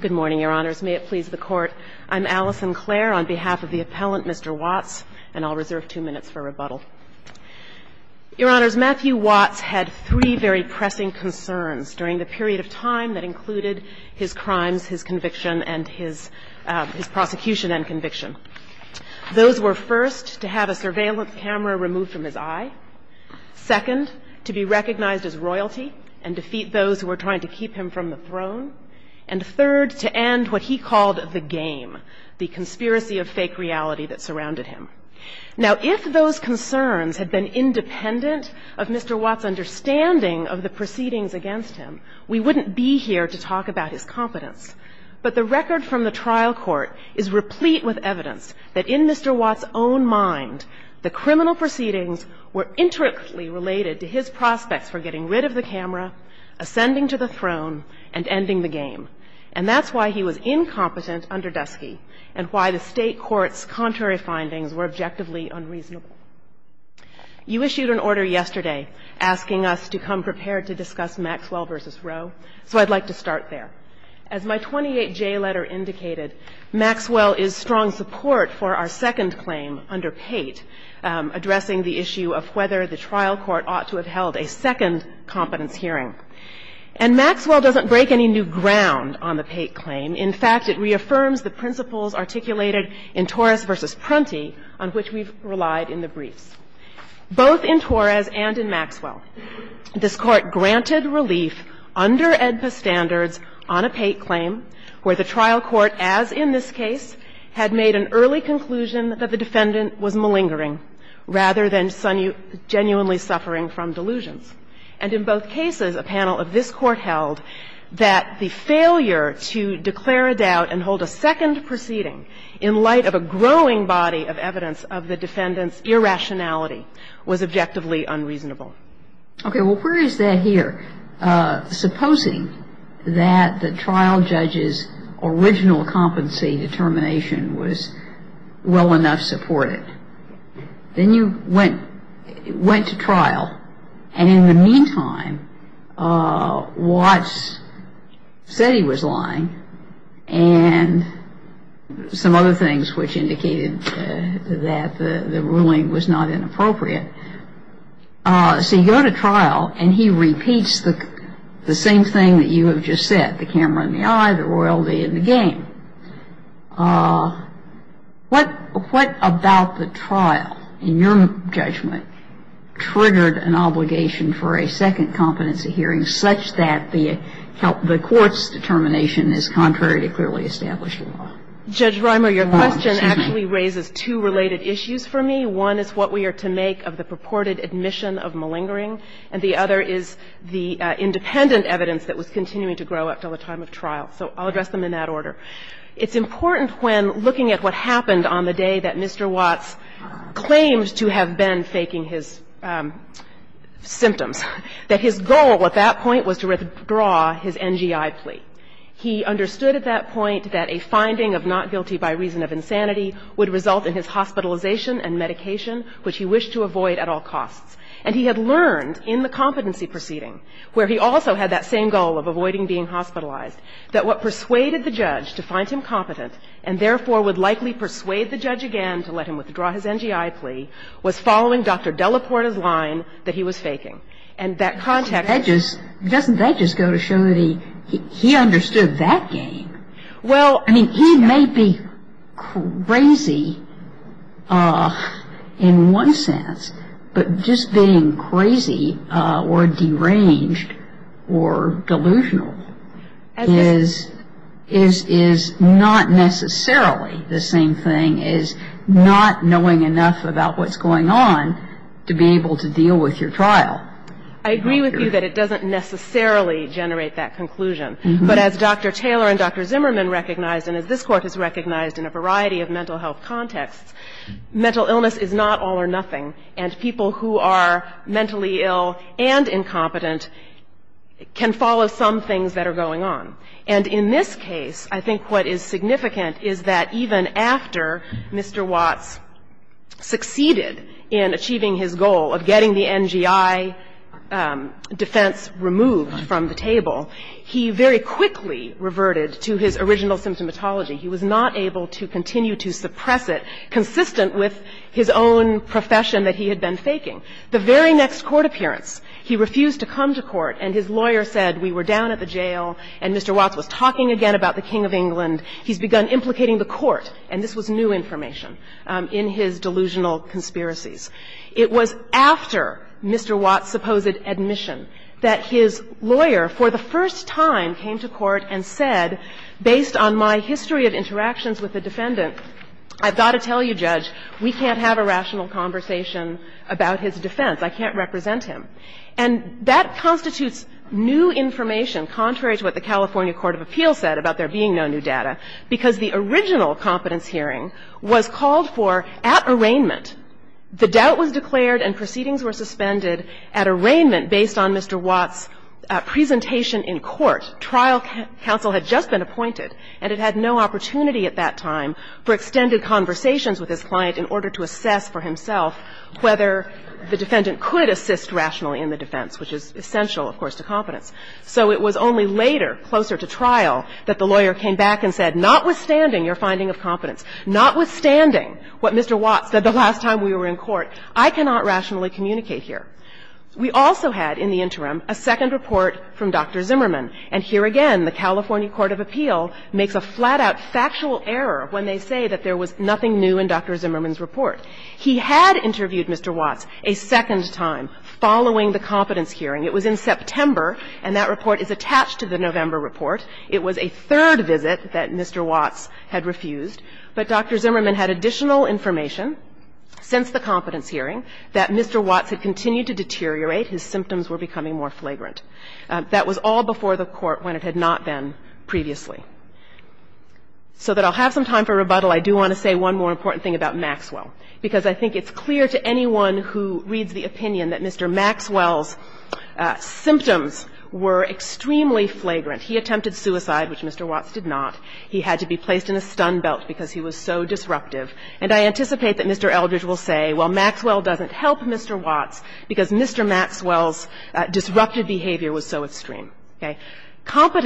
Good morning, Your Honors. May it please the Court. I'm Alison Clare on behalf of the appellant, Mr. Watts, and I'll reserve two minutes for rebuttal. Your Honors, Matthew Watts had three very pressing concerns during the period of time that included his crimes, his conviction, and his prosecution and conviction. Those were first, to have a surveillance camera removed from his eye. Second, to be recognized as royalty and defeat those who were trying to keep him from the throne. And third, to end what he called the game, the conspiracy of fake reality that surrounded him. Now, if those concerns had been independent of Mr. Watts' understanding of the proceedings against him, we wouldn't be here to talk about his competence. But the record from the trial court is replete with evidence that in Mr. Watts' own mind, the criminal proceedings were intricately related to his prospects for getting rid of the camera, ascending to the throne, and ending the game. And that's why he was incompetent under Dusky, and why the State Court's contrary findings were objectively unreasonable. You issued an order yesterday asking us to come prepared to discuss Maxwell v. Roe, so I'd like to start there. As my 28J letter indicated, Maxwell is strong support for our second claim under Pate, addressing the issue of whether the trial court ought to have held a second competence hearing. And Maxwell doesn't break any new ground on the Pate claim. In fact, it reaffirms the principles articulated in Torres v. Prunty on which we've relied in the briefs. Both in Torres and in Maxwell, this Court granted relief under AEDPA standards on a Pate claim where the trial court, as in this case, had made an early conclusion that the defendant was malingering rather than genuinely suffering from delusions. And in both cases, a panel of this Court held that the failure to declare a doubt and hold a second proceeding in light of a growing body of evidence of the defendant's irrationality was objectively unreasonable. Okay, well, where is that here? Supposing that the trial judge's original competency determination was well enough supported. Then you went to trial, and in the meantime, Watts said he was lying, and some other things which indicated that the ruling was not So you go to trial, and he repeats the same thing that you have just said, the camera in the eye, the royalty in the game. What about the trial, in your judgment, triggered an obligation for a second competency hearing such that the court's determination is contrary to clearly established law? Judge Rimer, your question actually raises two related issues for me. One is what we are to make of the purported admission of malingering, and the other is the independent evidence that was continuing to grow up until the time of trial. So I'll address them in that order. It's important when looking at what happened on the day that Mr. Watts claimed to have been faking his symptoms, that his goal at that point was to withdraw his NGI plea. He understood at that point that a finding of not guilty by reason of insanity would result in his hospitalization and medication, which he wished to avoid at all costs. And he had learned in the competency proceeding, where he also had that same goal of avoiding being hospitalized, that what persuaded the judge to find him competent, and therefore would likely persuade the judge again to let him withdraw his NGI plea, was following Dr. Delaporta's line that he was faking. And that context Doesn't that just go to show that he understood that game? Well, I mean, he may be crazy in one sense, but just being crazy or deranged or delusional is not necessarily the same thing as not knowing enough about what's going on to be able to deal with your trial. I agree with you that it doesn't necessarily generate that conclusion. But as Dr. Taylor and Dr. Zimmerman recognized, and as this Court has recognized in a variety of mental health contexts, mental illness is not all or nothing. And people who are mentally ill and incompetent can follow some things that are going on. And in this case, I think what is significant is that even after Mr. Watts succeeded in achieving his goal of getting the NGI defense removed from the table, he very quickly reverted to his original symptomatology. He was not able to continue to suppress it, consistent with his own profession that he had been faking. The very next court appearance, he refused to come to court, and his lawyer said, we were down at the jail, and Mr. Watts was talking again about the King of England. And he's begun implicating the Court, and this was new information, in his delusional conspiracies. It was after Mr. Watts' supposed admission that his lawyer for the first time came to court and said, based on my history of interactions with the defendant, I've got to tell you, Judge, we can't have a rational conversation about his defense. I can't represent him. And that constitutes new information, contrary to what the California court of appeals said about there being no new data, because the original competence hearing was called for at arraignment. The doubt was declared and proceedings were suspended at arraignment based on Mr. Watts' presentation in court. Trial counsel had just been appointed, and it had no opportunity at that time for extended conversations with his client in order to assess for himself whether the defendant could assist rationally in the defense, which is essential, of course, to competence. So it was only later, closer to trial, that the lawyer came back and said, notwithstanding your finding of competence, notwithstanding what Mr. Watts said the last time we were in court, I cannot rationally communicate here. We also had, in the interim, a second report from Dr. Zimmerman. And here again, the California court of appeal makes a flat-out factual error when they say that there was nothing new in Dr. Zimmerman's report. He had interviewed Mr. Watts a second time following the competence hearing. It was in September, and that report is attached to the November report. It was a third visit that Mr. Watts had refused, but Dr. Zimmerman had additional information since the competence hearing that Mr. Watts had continued to deteriorate. His symptoms were becoming more flagrant. That was all before the Court when it had not been previously. So that I'll have some time for rebuttal, I do want to say one more important thing about Maxwell, because I think it's clear to anyone who reads the opinion that Mr. Maxwell's symptoms were extremely flagrant. He attempted suicide, which Mr. Watts did not. He had to be placed in a stun belt because he was so disruptive. And I anticipate that Mr. Eldridge will say, well, Maxwell doesn't help Mr. Watts because Mr. Maxwell's disruptive behavior was so extreme. Okay. And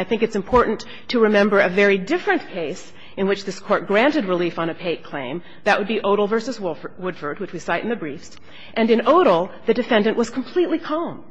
I think it's important to remember a very different case in which this Court granted relief on a paid claim. That would be Odle v. Woodford, which we cite in the briefs. And in Odle, the defendant was completely calm.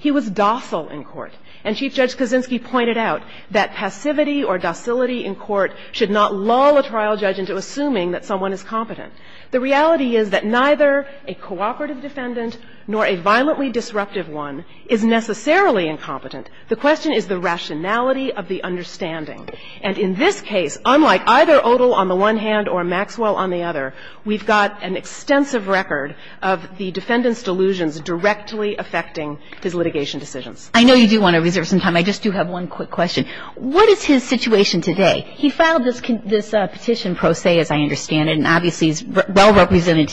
He was docile in court. And Chief Judge Kaczynski pointed out that passivity or docility in court should not lull a trial judge into assuming that someone is competent. The reality is that neither a cooperative defendant nor a violently disruptive one is necessarily incompetent. The question is the rationality of the understanding. And in this case, unlike either Odle on the one hand or Maxwell on the other, we've got an extensive record of the defendant's delusions directly affecting his litigation decisions. I know you do want to reserve some time. I just do have one quick question. What is his situation today? He filed this petition pro se, as I understand it, and obviously he's well-represented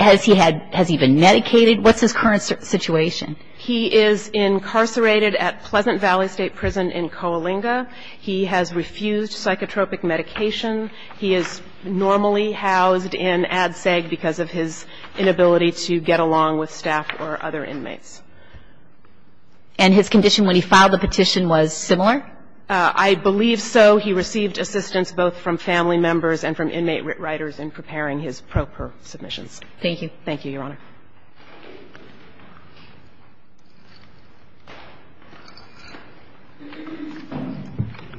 Has he been medicated? What's his current situation? He is incarcerated at Pleasant Valley State Prison in Coalinga. He has refused psychotropic medication. He is normally housed in ADSEG because of his inability to get along with staff or other inmates. And his condition when he filed the petition was similar? I believe so. He received assistance both from family members and from inmate writers in preparing his pro per submissions. Thank you. Thank you, Your Honor.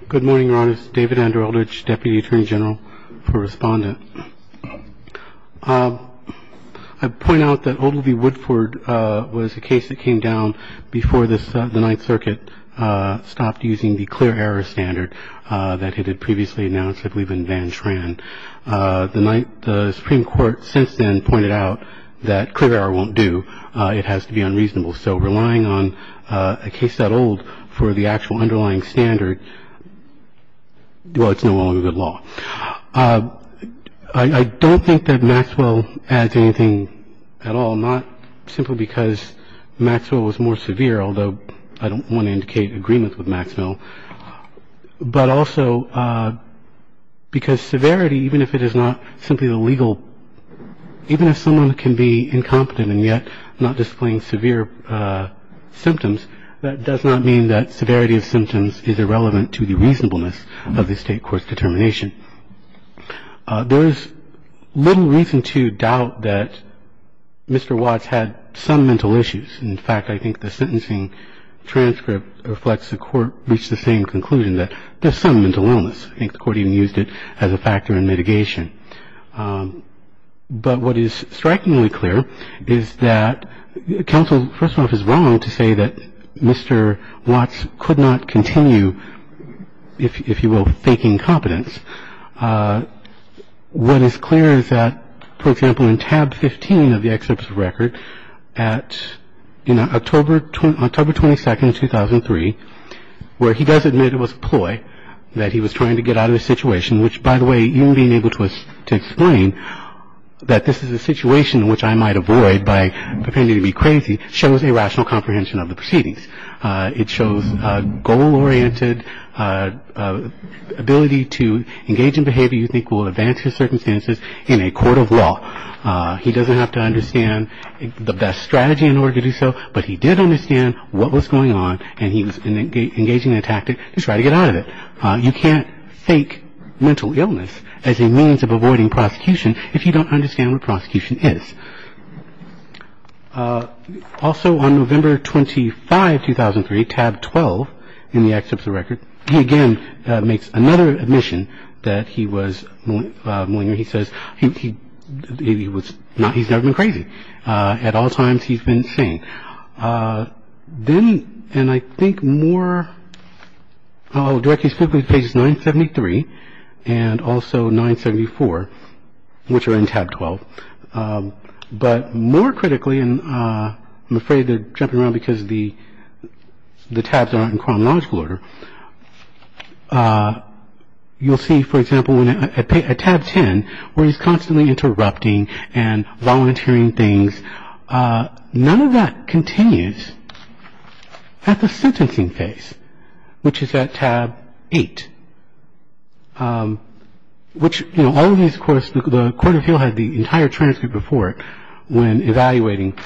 Good morning, Your Honors. David Andrew Eldridge, Deputy Attorney General for Respondent. I point out that Odle V. Woodford was a case that came down before the Ninth Circuit stopped using the clear error standard that had been previously announced, I believe, in Van Tran. The Supreme Court since then pointed out that clear error won't do. It has to be unreasonable. So relying on a case that old for the actual underlying standard, well, it's no longer good law. I don't think that Maxwell adds anything at all, not simply because Maxwell was more severe, although I don't want to indicate agreement with Maxwell, but also because severity, even if it is not simply a legal, even if someone can be incompetent and yet not displaying severe symptoms, that does not mean that severity of symptoms is irrelevant to the reasonableness of the State court's determination. There is little reason to doubt that Mr. Watts had some mental issues. In fact, I think the sentencing transcript reflects the court reached the same conclusion, that there's some mental illness. I think the court even used it as a factor in mitigation. But what is strikingly clear is that counsel, first of all, is wrong to say that Mr. Watts could not continue, if you will, faking competence. What is clear is that, for example, in tab 15 of the excerpt's record at October 22nd, 2003, where he does admit it was a ploy, that he was trying to get out of the situation, which by the way, even being able to explain that this is a situation which I might avoid by pretending to be crazy, shows a rational comprehension of the proceedings. It shows a goal-oriented ability to engage in behavior you think will advance his circumstances in a court of law. He doesn't have to understand the best strategy in order to do so, but he did understand what was going on and he was engaging in a tactic to try to get out of it. You can't fake mental illness as a means of avoiding prosecution if you don't understand what prosecution is. Also on November 25, 2003, tab 12 in the excerpt's record, he again makes another admission that he was malignant. He says he's never been crazy. At all times, he's been sane. Then, and I think more directly specifically pages 973 and also 974, which are in tab 12, but more critically, and I'm afraid they're jumping around because the tabs aren't in chronological order, you'll see, for example, at tab 10 where he's constantly interrupting and volunteering things, none of that continues at the sentencing phase, which is at tab 8, which, you know, all of these, of course, the court of appeal had the entire transcript before it when evaluating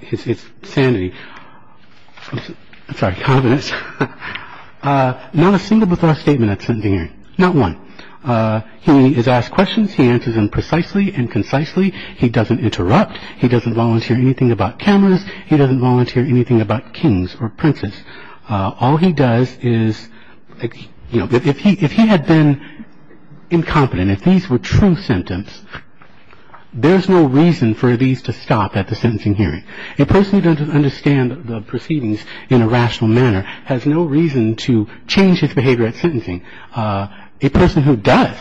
his sanity. I'm sorry, confidence. Not a single withdraw statement at sentencing hearing. Not one. He is asked questions. He answers them precisely and concisely. He doesn't interrupt. He doesn't volunteer anything about cameras. He doesn't volunteer anything about kings or princes. All he does is, you know, if he had been incompetent, if these were true symptoms, there's no reason for these to stop at the sentencing hearing. A person who doesn't understand the proceedings in a rational manner has no reason to change his behavior at sentencing. A person who does,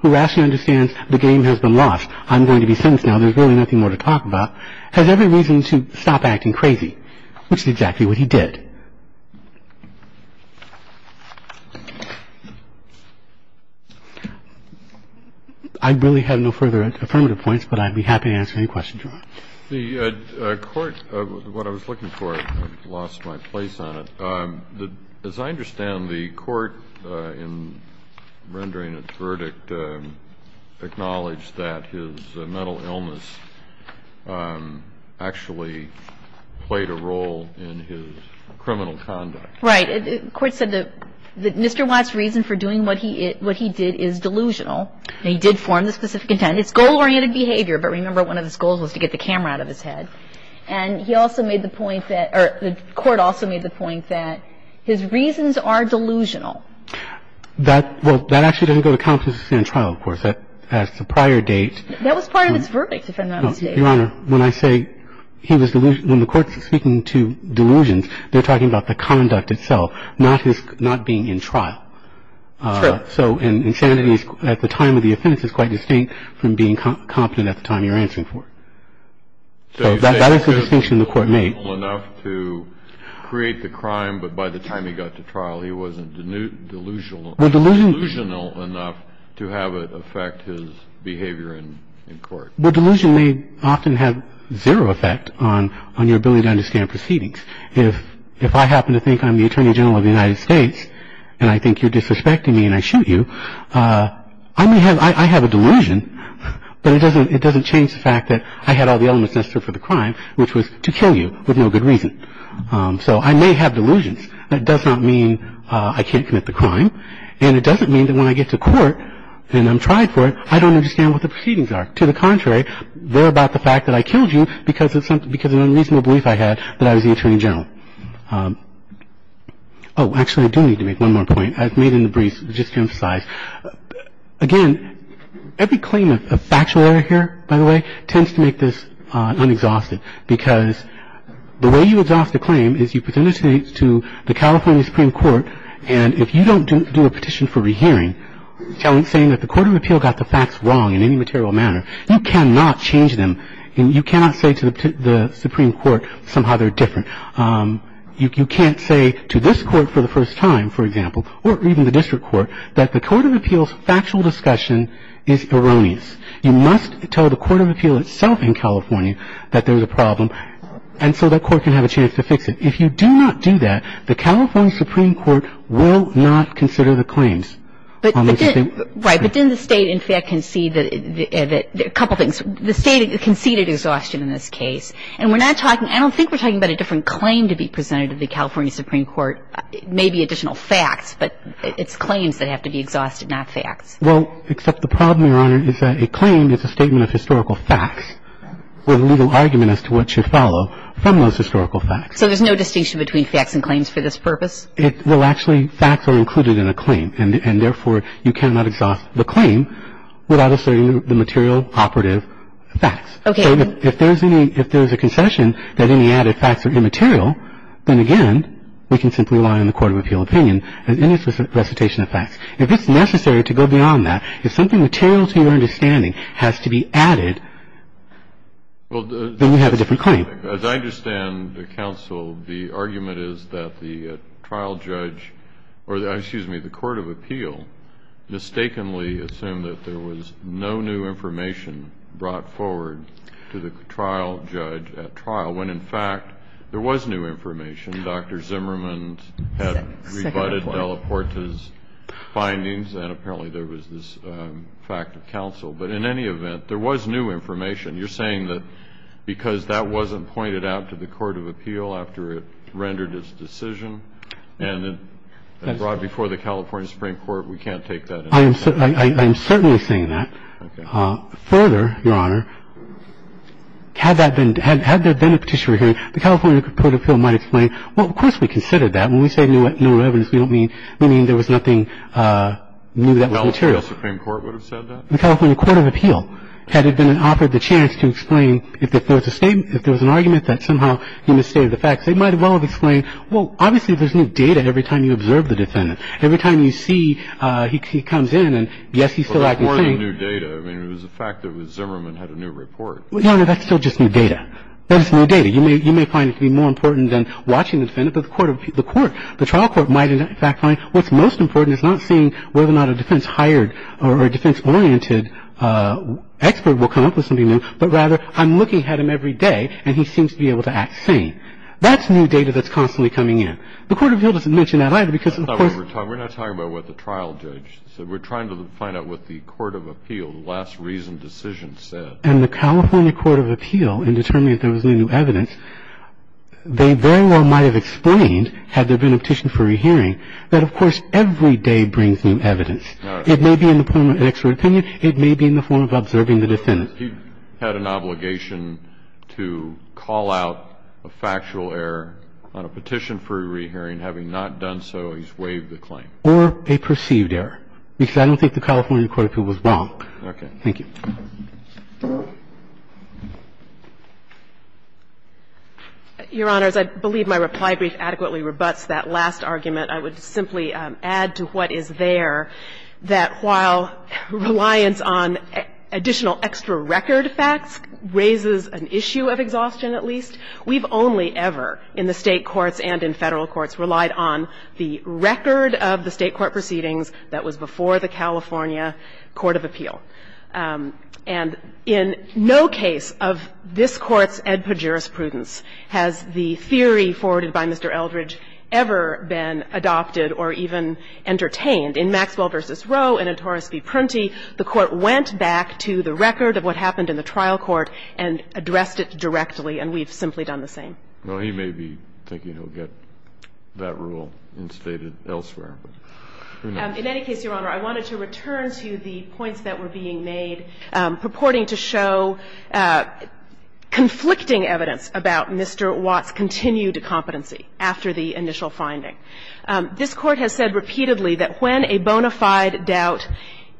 who rationally understands the game has been lost, I'm going to be sentenced now, there's really nothing more to talk about, has every reason to stop acting crazy, which is exactly what he did. I really have no further affirmative points, but I'd be happy to answer any questions you want. The court, what I was looking for, I've lost my place on it. As I understand, the court, in rendering its verdict, acknowledged that his mental illness actually played a role in his criminal conduct. Right. The court said that Mr. Watts' reason for doing what he did is delusional, and he did form the specific intent. It's goal-oriented behavior, but remember one of his goals was to get the camera out of his head. And he also made the point that, or the court also made the point that his reasons are delusional. That, well, that actually doesn't go to confidence in trial, of course. That's a prior date. That was part of his verdict, if I'm not mistaken. Your Honor, when I say he was delusional, when the court's speaking to delusions, they're talking about the conduct itself, not his, not being in trial. True. So insanity at the time of the offense is quite distinct from being competent at the time you're answering for it. So that is the distinction the court made. So you say he was delusional enough to create the crime, but by the time he got to trial he wasn't delusional enough to have it affect his behavior in court. Well, delusion may often have zero effect on your ability to understand proceedings. If I happen to think I'm the Attorney General of the United States, and I think you're disrespecting me and I shoot you, I have a delusion, but it doesn't change the fact that I had all the elements necessary for the crime, which was to kill you with no good reason. So I may have delusions. That does not mean I can't commit the crime, and it doesn't mean that when I get to court and I'm tried for it I don't understand what the proceedings are. To the contrary, they're about the fact that I killed you because of an unreasonable belief I had that I was the Attorney General. Oh, actually, I do need to make one more point. I've made a debrief just to emphasize. Again, every claim of factual error here, by the way, tends to make this unexhausted because the way you exhaust a claim is you present it to the California Supreme Court, and if you don't do a petition for rehearing saying that the Court of Appeal got the facts wrong in any material manner, you cannot change them and you cannot say to the Supreme Court somehow they're different. You can't say to this court for the first time, for example, or even the district court that the Court of Appeal's factual discussion is erroneous. You must tell the Court of Appeal itself in California that there's a problem and so that court can have a chance to fix it. If you do not do that, the California Supreme Court will not consider the claims. Right. But didn't the State, in fact, concede a couple things? The State conceded exhaustion in this case. I don't think we're talking about a different claim to be presented to the California Supreme Court, maybe additional facts, but it's claims that have to be exhausted, not facts. Well, except the problem, Your Honor, is that a claim is a statement of historical facts with a legal argument as to what should follow from those historical facts. So there's no distinction between facts and claims for this purpose? Well, actually, facts are included in a claim, and therefore you cannot exhaust the claim without asserting the material operative facts. Okay. If there's a concession that any added facts are immaterial, then again we can simply rely on the Court of Appeal opinion as any recitation of facts. If it's necessary to go beyond that, if something material to your understanding has to be added, then you have a different claim. As I understand the counsel, the argument is that the trial judge or, excuse me, the Court of Appeal mistakenly assumed that there was no new information brought forward to the trial judge at trial, when in fact there was new information. Dr. Zimmerman had rebutted Della Porta's findings, and apparently there was this fact of counsel. But in any event, there was new information. You're saying that because that wasn't pointed out to the Court of Appeal after it rendered its decision and brought before the California Supreme Court, we can't take that? I am certainly saying that. Okay. Further, Your Honor, had there been a petitioner hearing, the California Court of Appeal might have explained, well, of course we considered that. When we say new evidence, we don't mean there was nothing new that was material. The California Supreme Court would have said that? The California Court of Appeal had offered the chance to explain if there was a statement, if there was an argument that somehow he misstated the facts. They might as well have explained, well, obviously there's new data every time you observe the defendant. Every time you see he comes in and, yes, he's still acting sane. But that's more than new data. I mean, it was the fact that Zimmerman had a new report. Well, Your Honor, that's still just new data. That's new data. You may find it to be more important than watching the defendant. But the court, the trial court might in fact find what's most important is not seeing whether or not a defense-hired or a defense-oriented expert will come up with something new, but rather I'm looking at him every day, and he seems to be able to act sane. That's new data that's constantly coming in. The Court of Appeal doesn't mention that either because, of course — We're not talking about what the trial judge said. We're trying to find out what the Court of Appeal, the last reasoned decision, said. And the California Court of Appeal, in determining if there was any new evidence, they very well might have explained, had there been a petition for a hearing, that, of course, every day brings new evidence. All right. It may be in the form of an expert opinion. It may be in the form of observing the defendant. But he had an obligation to call out a factual error on a petition for a re-hearing. Having not done so, he's waived the claim. Or a perceived error, because I don't think the California Court of Appeal was wrong. Okay. Thank you. Your Honors, I believe my reply brief adequately rebutts that last argument. I would simply add to what is there that while reliance on additional extra record facts raises an issue of exhaustion, at least, we've only ever in the State courts and in Federal courts relied on the record of the State court proceedings that was before the California Court of Appeal. And in no case of this Court's ad pejoris prudence has the theory forwarded by Mr. Watson. by Mr. Watson. The Court has not adopted or even entertained. In Maxwell v. Roe and in Torres v. Prunty, the Court went back to the record of what happened in the trial court and addressed it directly, and we've simply done the same. Well, he may be thinking he'll get that rule instated elsewhere, but who knows? This Court has said repeatedly that when a bona fide doubt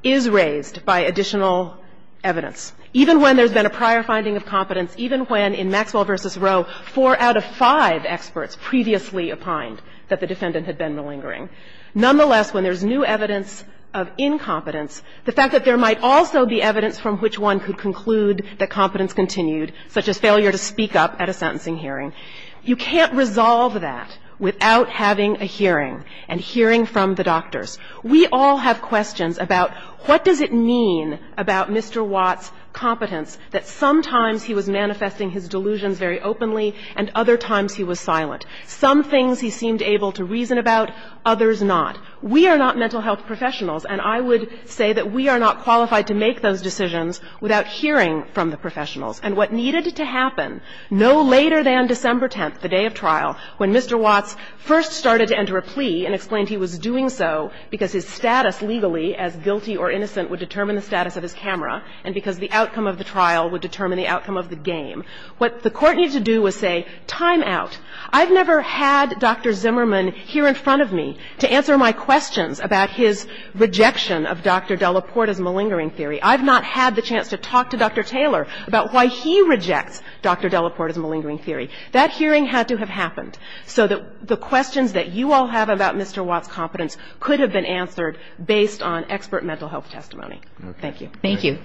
is raised by additional evidence, even when there's been a prior finding of competence, even when in Maxwell v. Roe four out of five experts previously opined that the defendant had been malingering, nonetheless, when there's new evidence of incompetence, the fact that there might also be evidence from which one could conclude that competence continued, such as failure to speak up at a sentencing hearing, you can't resolve that without having a hearing and hearing from the doctors. We all have questions about what does it mean about Mr. Watts' competence that sometimes he was manifesting his delusions very openly and other times he was silent. Some things he seemed able to reason about, others not. We are not mental health professionals, and I would say that we are not qualified to make those decisions without hearing from the professionals. And what needed to happen no later than December 10th, the day of trial, when Mr. Watts first started to enter a plea and explained he was doing so because his status legally as guilty or innocent would determine the status of his camera and because the outcome of the trial would determine the outcome of the game, what the Court needed to do was say, time out. I've never had Dr. Zimmerman here in front of me to answer my questions about his malingering theory. I've not had the chance to talk to Dr. Taylor about why he rejects Dr. Delaporte's malingering theory. That hearing had to have happened so that the questions that you all have about Mr. Watts' competence could have been answered based on expert mental health testimony. Thank you.